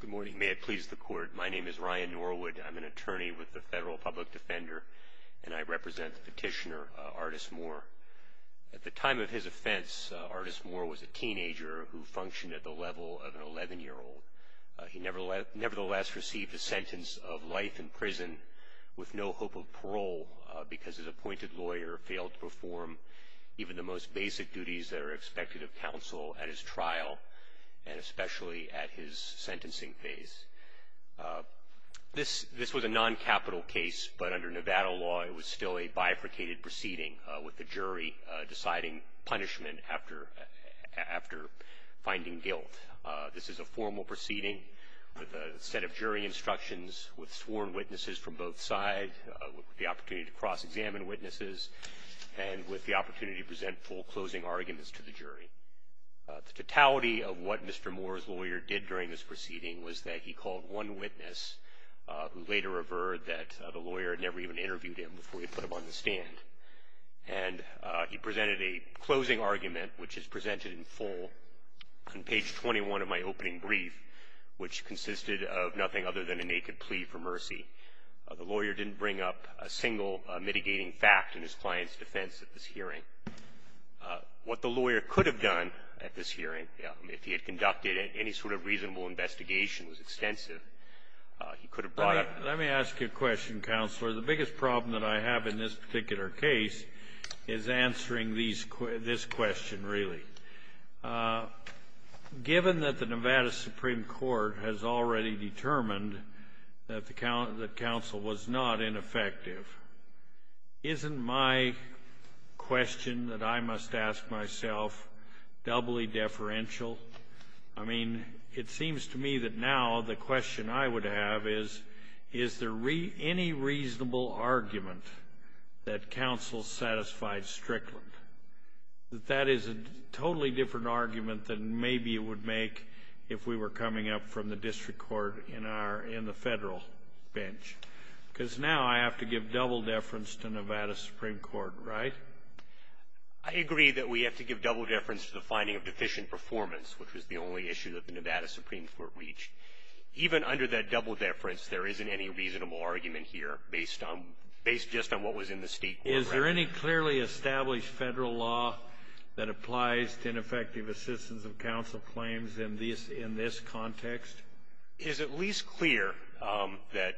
Good morning. May it please the court. My name is Ryan Norwood. I'm an attorney with the Federal Public Defender, and I represent the petitioner Artis Moore. At the time of his offense, Artis Moore was a teenager who functioned at the level of an 11-year-old. He nevertheless received a sentence of life in prison with no hope of parole because his appointed lawyer failed to perform even the most basic duties that are expected of counsel at his trial and especially at his sentencing phase. This was a noncapital case, but under Nevada law it was still a bifurcated proceeding with the jury deciding punishment after finding guilt. This is a formal proceeding with a set of jury instructions with sworn witnesses from both sides, with the opportunity to cross-examine witnesses, and with the opportunity to present full closing arguments to the jury. The totality of what Mr. Moore's lawyer did during this proceeding was that he called one witness who later averred that the lawyer had never even interviewed him before he put him on the stand. And he presented a closing argument, which is presented in full on page 21 of my opening brief, which consisted of nothing other than a naked plea for mercy. The lawyer didn't bring up a single mitigating fact in his client's defense at this hearing. What the lawyer could have done at this hearing, if he had conducted any sort of reasonable investigation that was extensive, he could have brought up. Let me ask you a question, Counselor. The biggest problem that I have in this particular case is answering this question, really. Given that the Nevada Supreme Court has already determined that counsel was not ineffective, isn't my question that I must ask myself doubly deferential? I mean, it seems to me that now the question I would have is, is there any reasonable argument that counsel satisfied Strickland? That that is a totally different argument than maybe it would make if we were coming up from the district court in the Federal bench. Because now I have to give double deference to Nevada Supreme Court, right? I agree that we have to give double deference to the finding of deficient performance, which was the only issue that the Nevada Supreme Court reached. Even under that double deference, there isn't any reasonable argument here based just on what was in the state court record. Is there any clearly established Federal law that applies to ineffective assistance of counsel claims in this context? It is at least clear that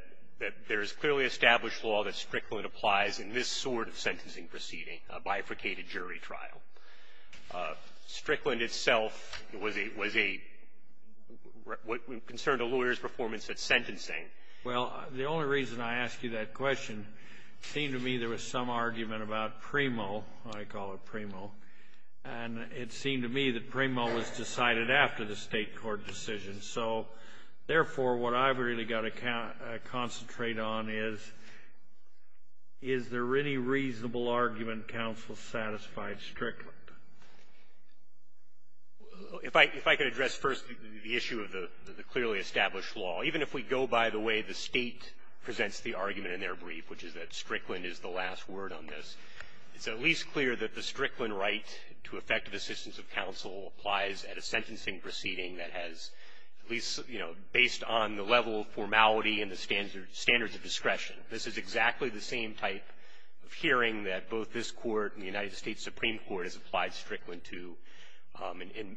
there is clearly established law that Strickland applies in this sort of sentencing proceeding, a bifurcated jury trial. Strickland itself was a concern to lawyers' performance at sentencing. Well, the only reason I ask you that question, it seemed to me there was some argument about PRIMO, I call it PRIMO, and it seemed to me that PRIMO was decided after the state court decision. So, therefore, what I've really got to concentrate on is, is there any reasonable argument counsel satisfied Strickland? Well, if I could address first the issue of the clearly established law. Even if we go by the way the State presents the argument in their brief, which is that Strickland is the last word on this, it's at least clear that the Strickland right to effective assistance of counsel applies at a sentencing proceeding that has at least, you know, based on the level of formality and the standards of discretion. This is exactly the same type of hearing that both this Court and the United States Supreme Court has applied Strickland to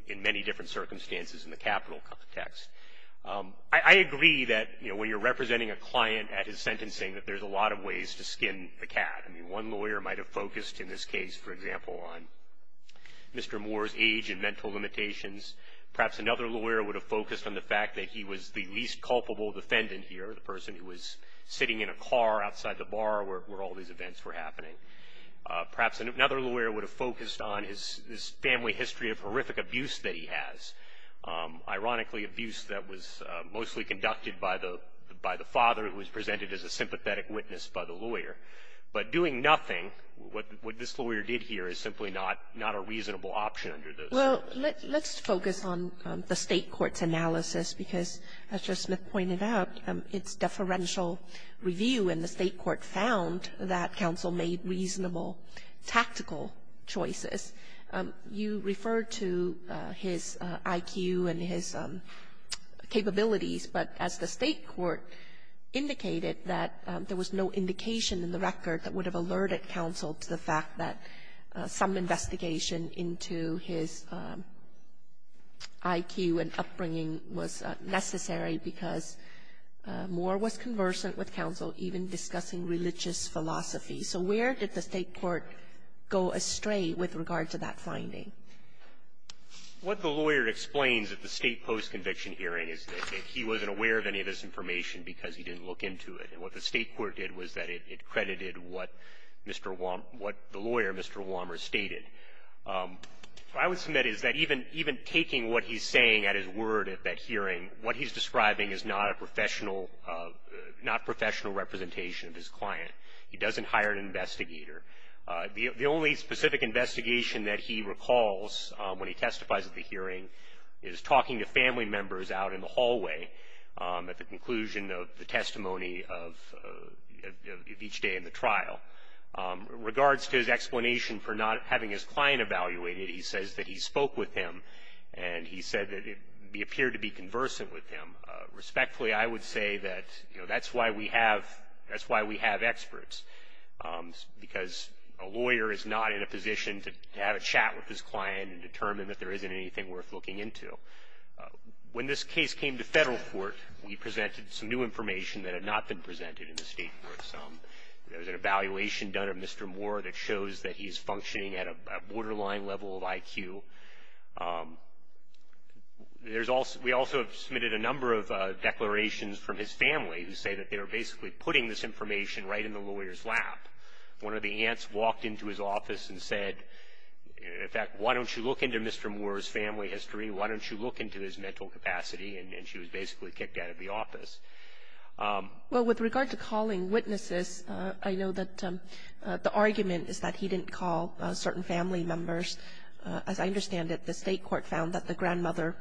in many different circumstances in the capital context. I agree that, you know, when you're representing a client at his sentencing, I mean, one lawyer might have focused in this case, for example, on Mr. Moore's age and mental limitations. Perhaps another lawyer would have focused on the fact that he was the least culpable defendant here, the person who was sitting in a car outside the bar where all these events were happening. Perhaps another lawyer would have focused on his family history of horrific abuse that he has. Ironically, abuse that was mostly conducted by the father who was presented as a sympathetic witness by the lawyer. But doing nothing, what this lawyer did here, is simply not a reasonable option under those circumstances. Kagan. Well, let's focus on the State court's analysis because, as Justice Smith pointed out, its deferential review in the State court found that counsel made reasonable tactical choices. You referred to his IQ and his capabilities, but as the State court indicated, that there was no indication in the record that would have alerted counsel to the fact that some investigation into his IQ and upbringing was necessary because Moore was conversant with counsel, even discussing religious philosophy. So where did the State court go astray with regard to that finding? What the lawyer explains at the State post-conviction hearing is that he wasn't aware of any of this information because he didn't look into it. And what the State court did was that it credited what Mr. Walmer, what the lawyer, Mr. Walmer, stated. What I would submit is that even taking what he's saying at his word at that hearing, what he's describing is not a professional, not professional representation of his client. He doesn't hire an investigator. The only specific investigation that he recalls when he testifies at the hearing is talking to family members out in the hallway at the conclusion of the testimony of each day in the trial. Regards to his explanation for not having his client evaluated, he says that he spoke with him, and he said that he appeared to be conversant with him. Respectfully, I would say that, you know, that's why we have experts, because a lawyer is not in a position to have a chat with his client and determine that there isn't anything worth looking into. When this case came to federal court, we presented some new information that had not been presented in the State courts. There was an evaluation done of Mr. Moore that shows that he's functioning at a borderline level of IQ. We also have submitted a number of declarations from his family who say that they are basically putting this information right in the lawyer's lap. One of the aunts walked into his office and said, in fact, why don't you look into Mr. Moore's family history? Why don't you look into his mental capacity? And she was basically kicked out of the office. Well, with regard to calling witnesses, I know that the argument is that he didn't call certain family members. As I understand it, the State court found that the grandmother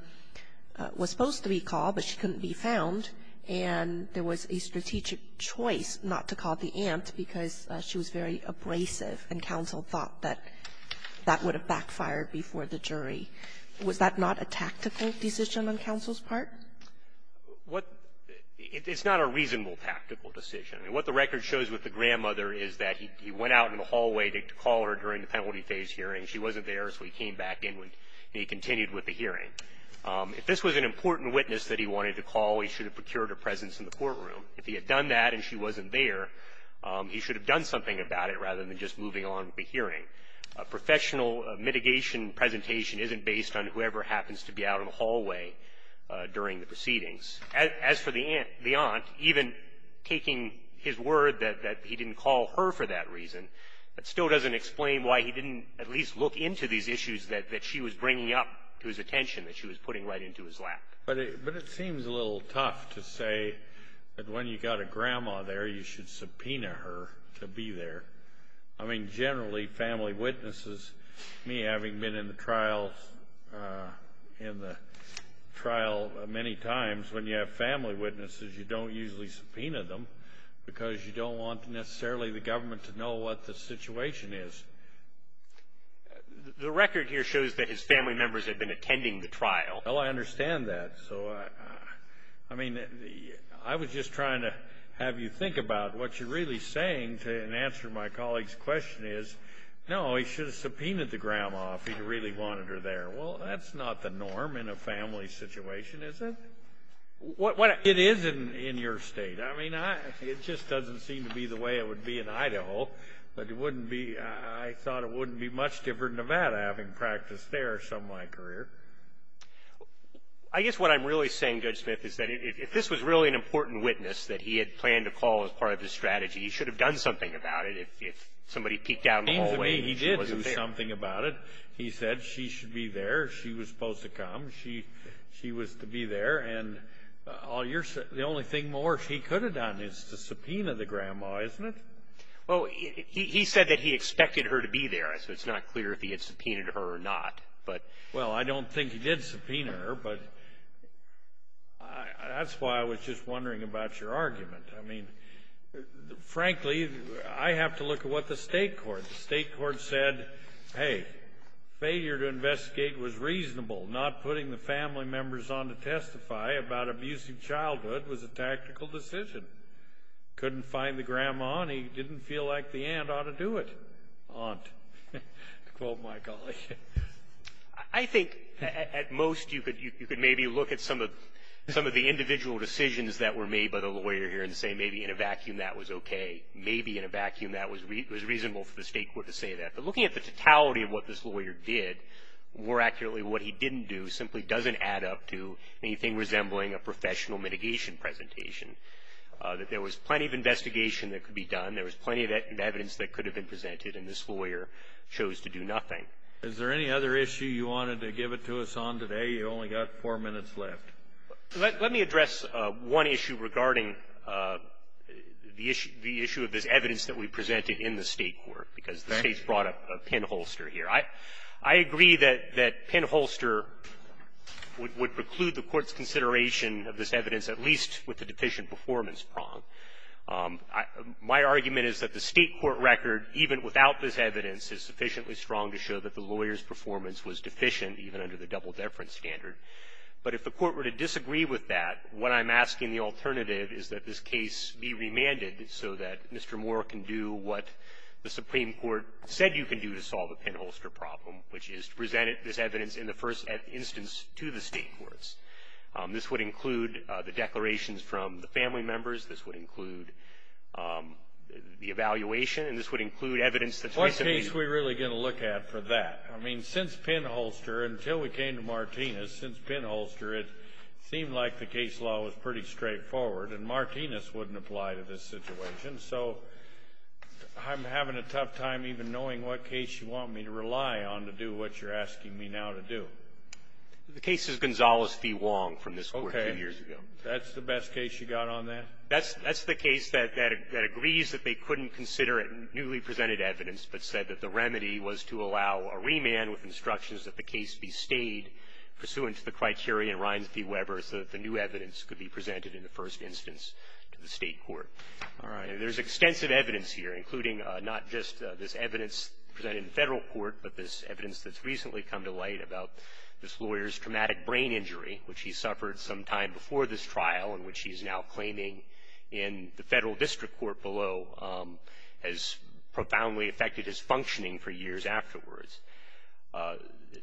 was supposed to be called, but she couldn't be found. And there was a strategic choice not to call the aunt because she was very abrasive and counsel thought that that would have backfired before the jury. Was that not a tactical decision on counsel's part? What the – it's not a reasonable tactical decision. I mean, what the record shows with the grandmother is that he went out in the hallway to call her during the penalty phase hearing. She wasn't there, so he came back in and he continued with the hearing. If this was an important witness that he wanted to call, he should have procured her presence in the courtroom. If he had done that and she wasn't there, he should have done something about it rather than just moving on to the hearing. A professional mitigation presentation isn't based on whoever happens to be out in the hallway during the proceedings. As for the aunt, even taking his word that he didn't call her for that reason, that still doesn't explain why he didn't at least look into these issues that she was bringing up to his attention, that she was putting right into his lap. But it seems a little tough to say that when you've got a grandma there, you should subpoena her to be there. I mean, generally, family witnesses, me having been in the trial many times, when you have family witnesses, you don't usually subpoena them because you don't want necessarily the government to know what the situation is. The record here shows that his family members had been attending the trial. Well, I understand that. So, I mean, I was just trying to have you think about what you're really saying to answer my colleague's question is, no, he should have subpoenaed the grandma if he really wanted her there. Well, that's not the norm in a family situation, is it? It is in your state. I mean, it just doesn't seem to be the way it would be in Idaho. I thought it wouldn't be much different in Nevada having practiced there some of my career. I guess what I'm really saying, Judge Smith, is that if this was really an important witness that he had planned to call as part of his strategy, he should have done something about it if somebody peeked down the hallway and she wasn't there. It seems to me he did do something about it. He said she should be there, she was supposed to come, she was to be there, and the only thing more she could have done is to subpoena the grandma, isn't it? Well, he said that he expected her to be there, so it's not clear if he had subpoenaed her or not. Well, I don't think he did subpoena her, but that's why I was just wondering about your argument. I mean, frankly, I have to look at what the state court said. Hey, failure to investigate was reasonable. Not putting the family members on to testify about abusive childhood was a tactical decision. Couldn't find the grandma, and he didn't feel like the aunt ought to do it. Aunt, to quote my colleague. I think at most you could maybe look at some of the individual decisions that were made by the lawyer here and say maybe in a vacuum that was okay. Maybe in a vacuum that was reasonable for the state court to say that. But looking at the totality of what this lawyer did, more accurately what he didn't do simply doesn't add up to anything resembling a professional mitigation presentation. There was plenty of investigation that could be done. There was plenty of evidence that could have been presented, and this lawyer chose to do nothing. Is there any other issue you wanted to give it to us on today? You've only got four minutes left. Let me address one issue regarding the issue of this evidence that we presented in the state court because the state's brought up a pinholster here. I agree that pinholster would preclude the Court's consideration of this evidence, at least with the deficient performance prong. My argument is that the state court record, even without this evidence, is sufficiently strong to show that the lawyer's performance was deficient, even under the double-deference standard. But if the Court were to disagree with that, what I'm asking the alternative is that this case be remanded so that Mr. Moore can do what the Supreme Court said you can do to solve the pinholster problem, which is to present this evidence in the first instance to the state courts. This would include the declarations from the family members. This would include the evaluation. And this would include evidence that's recently used. What case are we really going to look at for that? I mean, since pinholster, until we came to Martinez, since pinholster, it seemed like the case law was pretty straightforward, and Martinez wouldn't apply to this situation. So I'm having a tough time even knowing what case you want me to rely on to do what you're asking me now to do. The case is Gonzales v. Wong from this Court two years ago. Okay. That's the best case you got on that? That's the case that agrees that they couldn't consider newly presented evidence, but said that the remedy was to allow a remand with instructions that the case be stayed pursuant to the criteria in Reins v. Weber so that the new evidence could be presented in the first instance to the state court. All right. And there's extensive evidence here, including not just this evidence presented in the Federal Court, but this evidence that's recently come to light about this lawyer's traumatic brain injury, which he suffered sometime before this trial and which he's now claiming in the Federal District Court below has profoundly affected his functioning for years afterwards.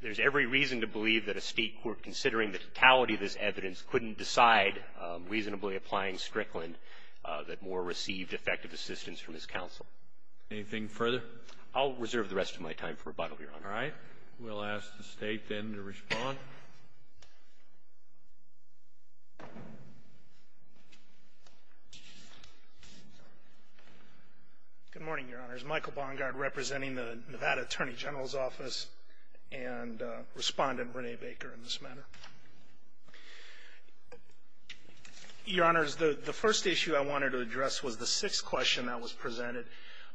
There's every reason to believe that a state court, considering the totality of this evidence, couldn't decide, reasonably applying Strickland, that Moore received effective assistance from his counsel. Anything further? I'll reserve the rest of my time for rebuttal, Your Honor. All right. We'll ask the State then to respond. Good morning, Your Honors. My name is Michael Bongard, representing the Nevada Attorney General's Office, and Respondent Rene Baker in this matter. Your Honors, the first issue I wanted to address was the sixth question that was presented.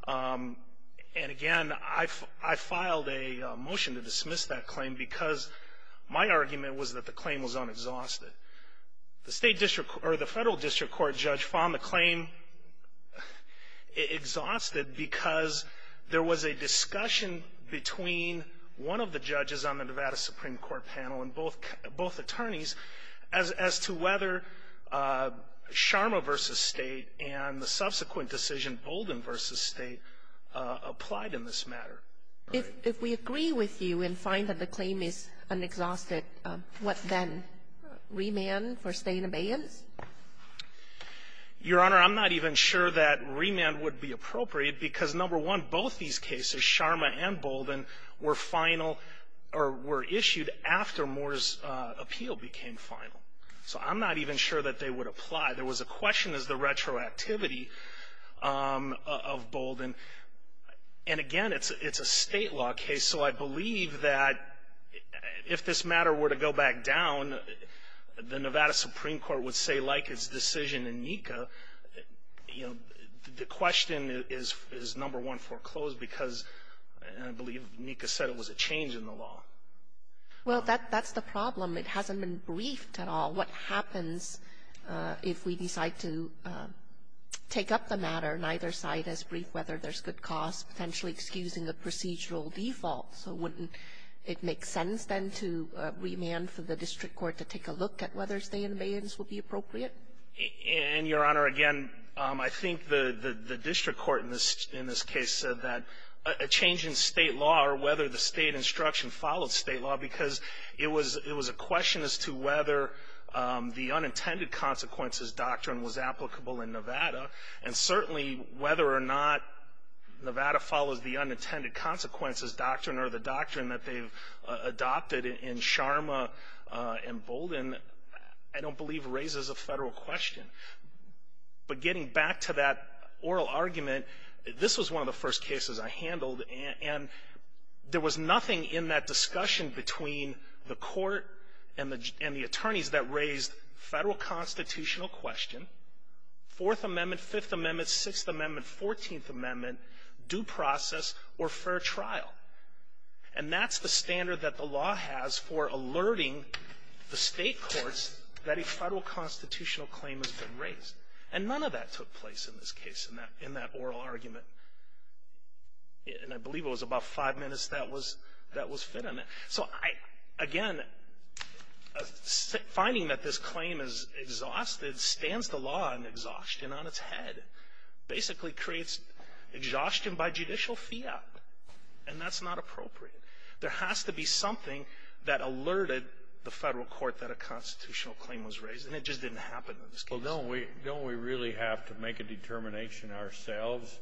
And again, I filed a motion to dismiss that claim because my argument was that the claim was unexhausted. The Federal District Court judge found the claim exhausted because there was a discussion between one of the judges on the Nevada Supreme Court panel and both attorneys as to whether Sharma v. State and the subsequent decision, Bolden v. State, applied in this matter. If we agree with you and find that the claim is unexhausted, what then? Remand for state abeyance? Your Honor, I'm not even sure that remand would be appropriate because, number one, both these cases, Sharma and Bolden, were final or were issued after Moore's appeal became final. So I'm not even sure that they would apply. There was a question as to the retroactivity of Bolden. And again, it's a State law case, so I believe that if this matter were to go back down, the Nevada Supreme Court would say, like its decision in NECA, you know, the question is, number one, foreclosed because I believe NECA said it was a change in the law. Well, that's the problem. It hasn't been briefed at all. What happens if we decide to take up the matter, neither side has briefed whether there's good cause, potentially excusing the procedural default? So wouldn't it make sense, then, to remand for the district court to take a look at whether state abeyance would be appropriate? And, Your Honor, again, I think the district court in this case said that a change in State law or whether the State instruction followed State law because it was a question as to whether the unintended consequences doctrine was applicable in Nevada. And certainly, whether or not Nevada follows the unintended consequences doctrine or the doctrine that they've adopted in Sharma and Bolden, I don't believe raises a Federal question. But getting back to that oral argument, this was one of the first cases I handled, and there was nothing in that discussion between the court and the attorneys that raised Federal constitutional question, Fourth Amendment, Fifth Amendment, Sixth Amendment, Fourteenth Amendment, due process, or fair trial. And that's the standard that the law has for alerting the State courts that a Federal constitutional claim has been raised. And none of that took place in this case, in that oral argument. And I believe it was about five minutes that was fit in it. So I, again, finding that this claim is exhausted stands the law in exhaustion on its head, basically creates exhaustion by judicial fiat. And that's not appropriate. There has to be something that alerted the Federal court that a constitutional claim was raised. And it just didn't happen in this case. Scalia. Well, don't we really have to make a determination ourselves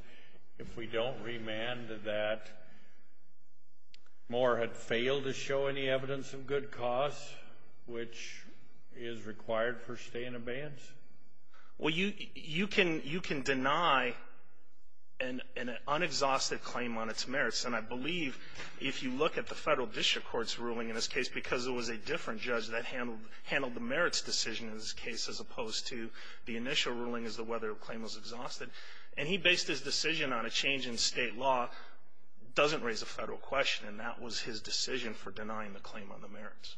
if we don't remand to that, Moore had failed to show any evidence of good cause, which is required for stay in abeyance? Well, you can deny an unexhausted claim on its merits. And I believe if you look at the Federal district court's ruling in this case, because it was a different judge that handled the merits decision in this case, as opposed to the initial ruling as to whether the claim was exhausted. And he based his decision on a change in state law. It doesn't raise a Federal question. And that was his decision for denying the claim on the merits.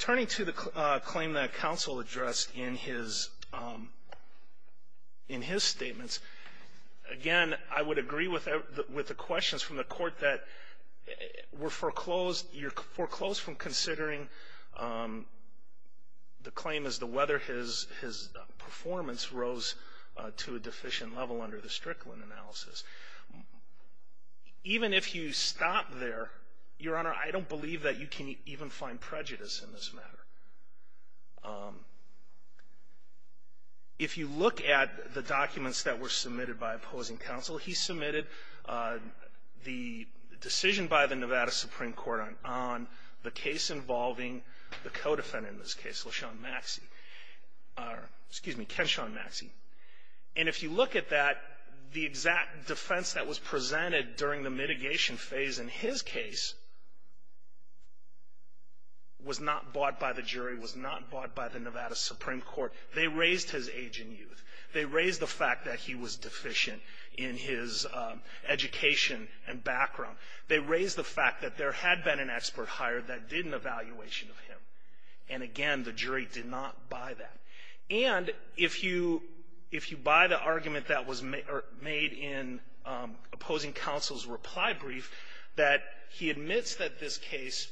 Turning to the claim that counsel addressed in his statements, again, I would agree with the questions from the court that were foreclosed. You're foreclosed from considering the claim as to whether his performance rose to a deficient level under the Strickland analysis. Even if you stop there, Your Honor, I don't believe that you can even find prejudice in this matter. If you look at the documents that were submitted by opposing counsel, he submitted the decision by the Nevada Supreme Court on the case involving the co-defendant in this case, LaShawn Maxey. Excuse me, Kenshawn Maxey. And if you look at that, the exact defense that was presented during the mitigation phase in his case was not bought by the jury, was not bought by the Nevada Supreme Court. They raised his age and youth. They raised the fact that he was deficient in his education and background. They raised the fact that there had been an expert hired that did an evaluation of him. And again, the jury did not buy that. And if you buy the argument that was made in opposing counsel's reply brief, that he admits that this case,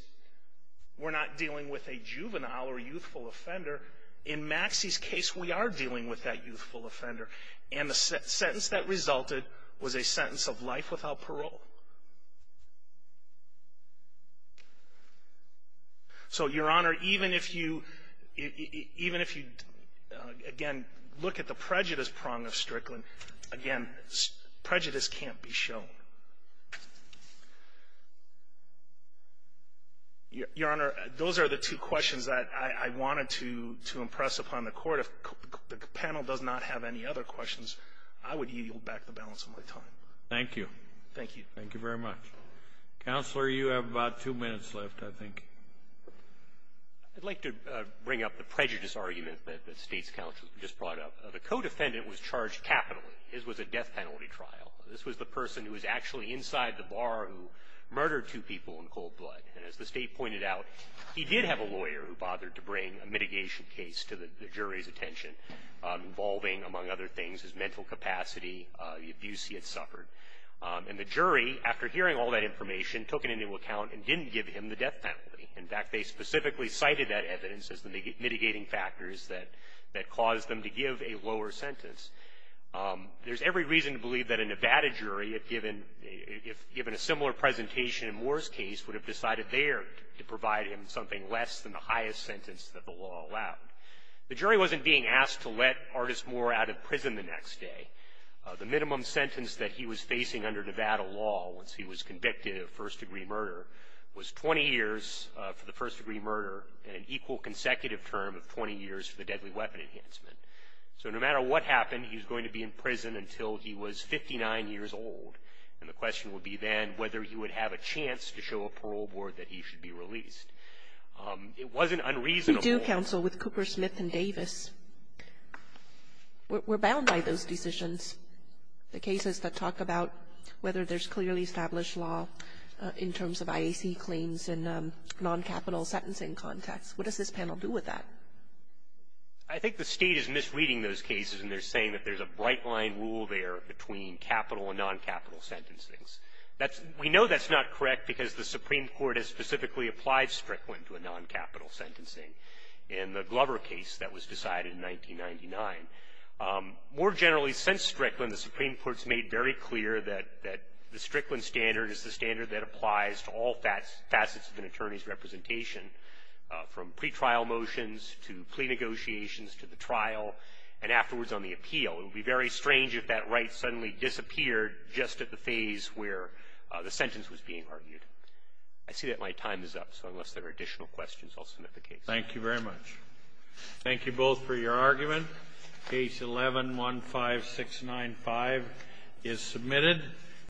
we're not dealing with a juvenile or youthful offender. In Maxey's case, we are dealing with that youthful offender. And the sentence that resulted was a sentence of life without parole. So, Your Honor, even if you, even if you, again, look at the prejudice prong of Strickland, again, prejudice can't be shown. Your Honor, those are the two questions that I wanted to impress upon the Court. If the panel does not have any other questions, I would yield back the balance of my time. Thank you. Thank you. Thank you very much. Counselor, you have about two minutes left, I think. I'd like to bring up the prejudice argument that State's counsel just brought up. The co-defendant was charged capitally. His was a death penalty trial. This was the person who was actually inside the bar who murdered two people in cold blood. And as the State pointed out, he did have a lawyer who bothered to bring a mitigation case to the jury's attention, involving, among other things, his mental capacity, the abuse he had suffered. And the jury, after hearing all that information, took it into account and didn't give him the death penalty. In fact, they specifically cited that evidence as the mitigating factors that caused them to give a lower sentence. There's every reason to believe that a Nevada jury, if given a similar presentation in Moore's case, would have decided there to provide him something less than the highest sentence that the law allowed. The jury wasn't being asked to let Artis Moore out of prison the next day. The minimum sentence that he was facing under Nevada law, once he was convicted of first-degree murder, was 20 years for the first-degree murder and an equal consecutive term of 20 years for the deadly weapon enhancement. So no matter what happened, he was going to be in prison until he was 59 years old. And the question would be then whether he would have a chance to show a parole board that he should be released. It wasn't unreasonable. You do counsel with Cooper, Smith, and Davis. We're bound by those decisions, the cases that talk about whether there's clearly established law in terms of IAC claims in non-capital sentencing contexts. What does this panel do with that? I think the State is misreading those cases, and they're saying that there's a bright line rule there between capital and non-capital sentencings. That's we know that's not correct because the Supreme Court has specifically applied Strickland to a non-capital sentencing in the Glover case that was decided in 1999. More generally, since Strickland, the Supreme Court has made very clear that the Strickland standard is the standard that applies to all facets of an attorney's case, from motions to plea negotiations to the trial and afterwards on the appeal. It would be very strange if that right suddenly disappeared just at the phase where the sentence was being argued. I see that my time is up, so unless there are additional questions, I'll submit the case. Thank you very much. Thank you both for your argument. Case 11-15695 is submitted.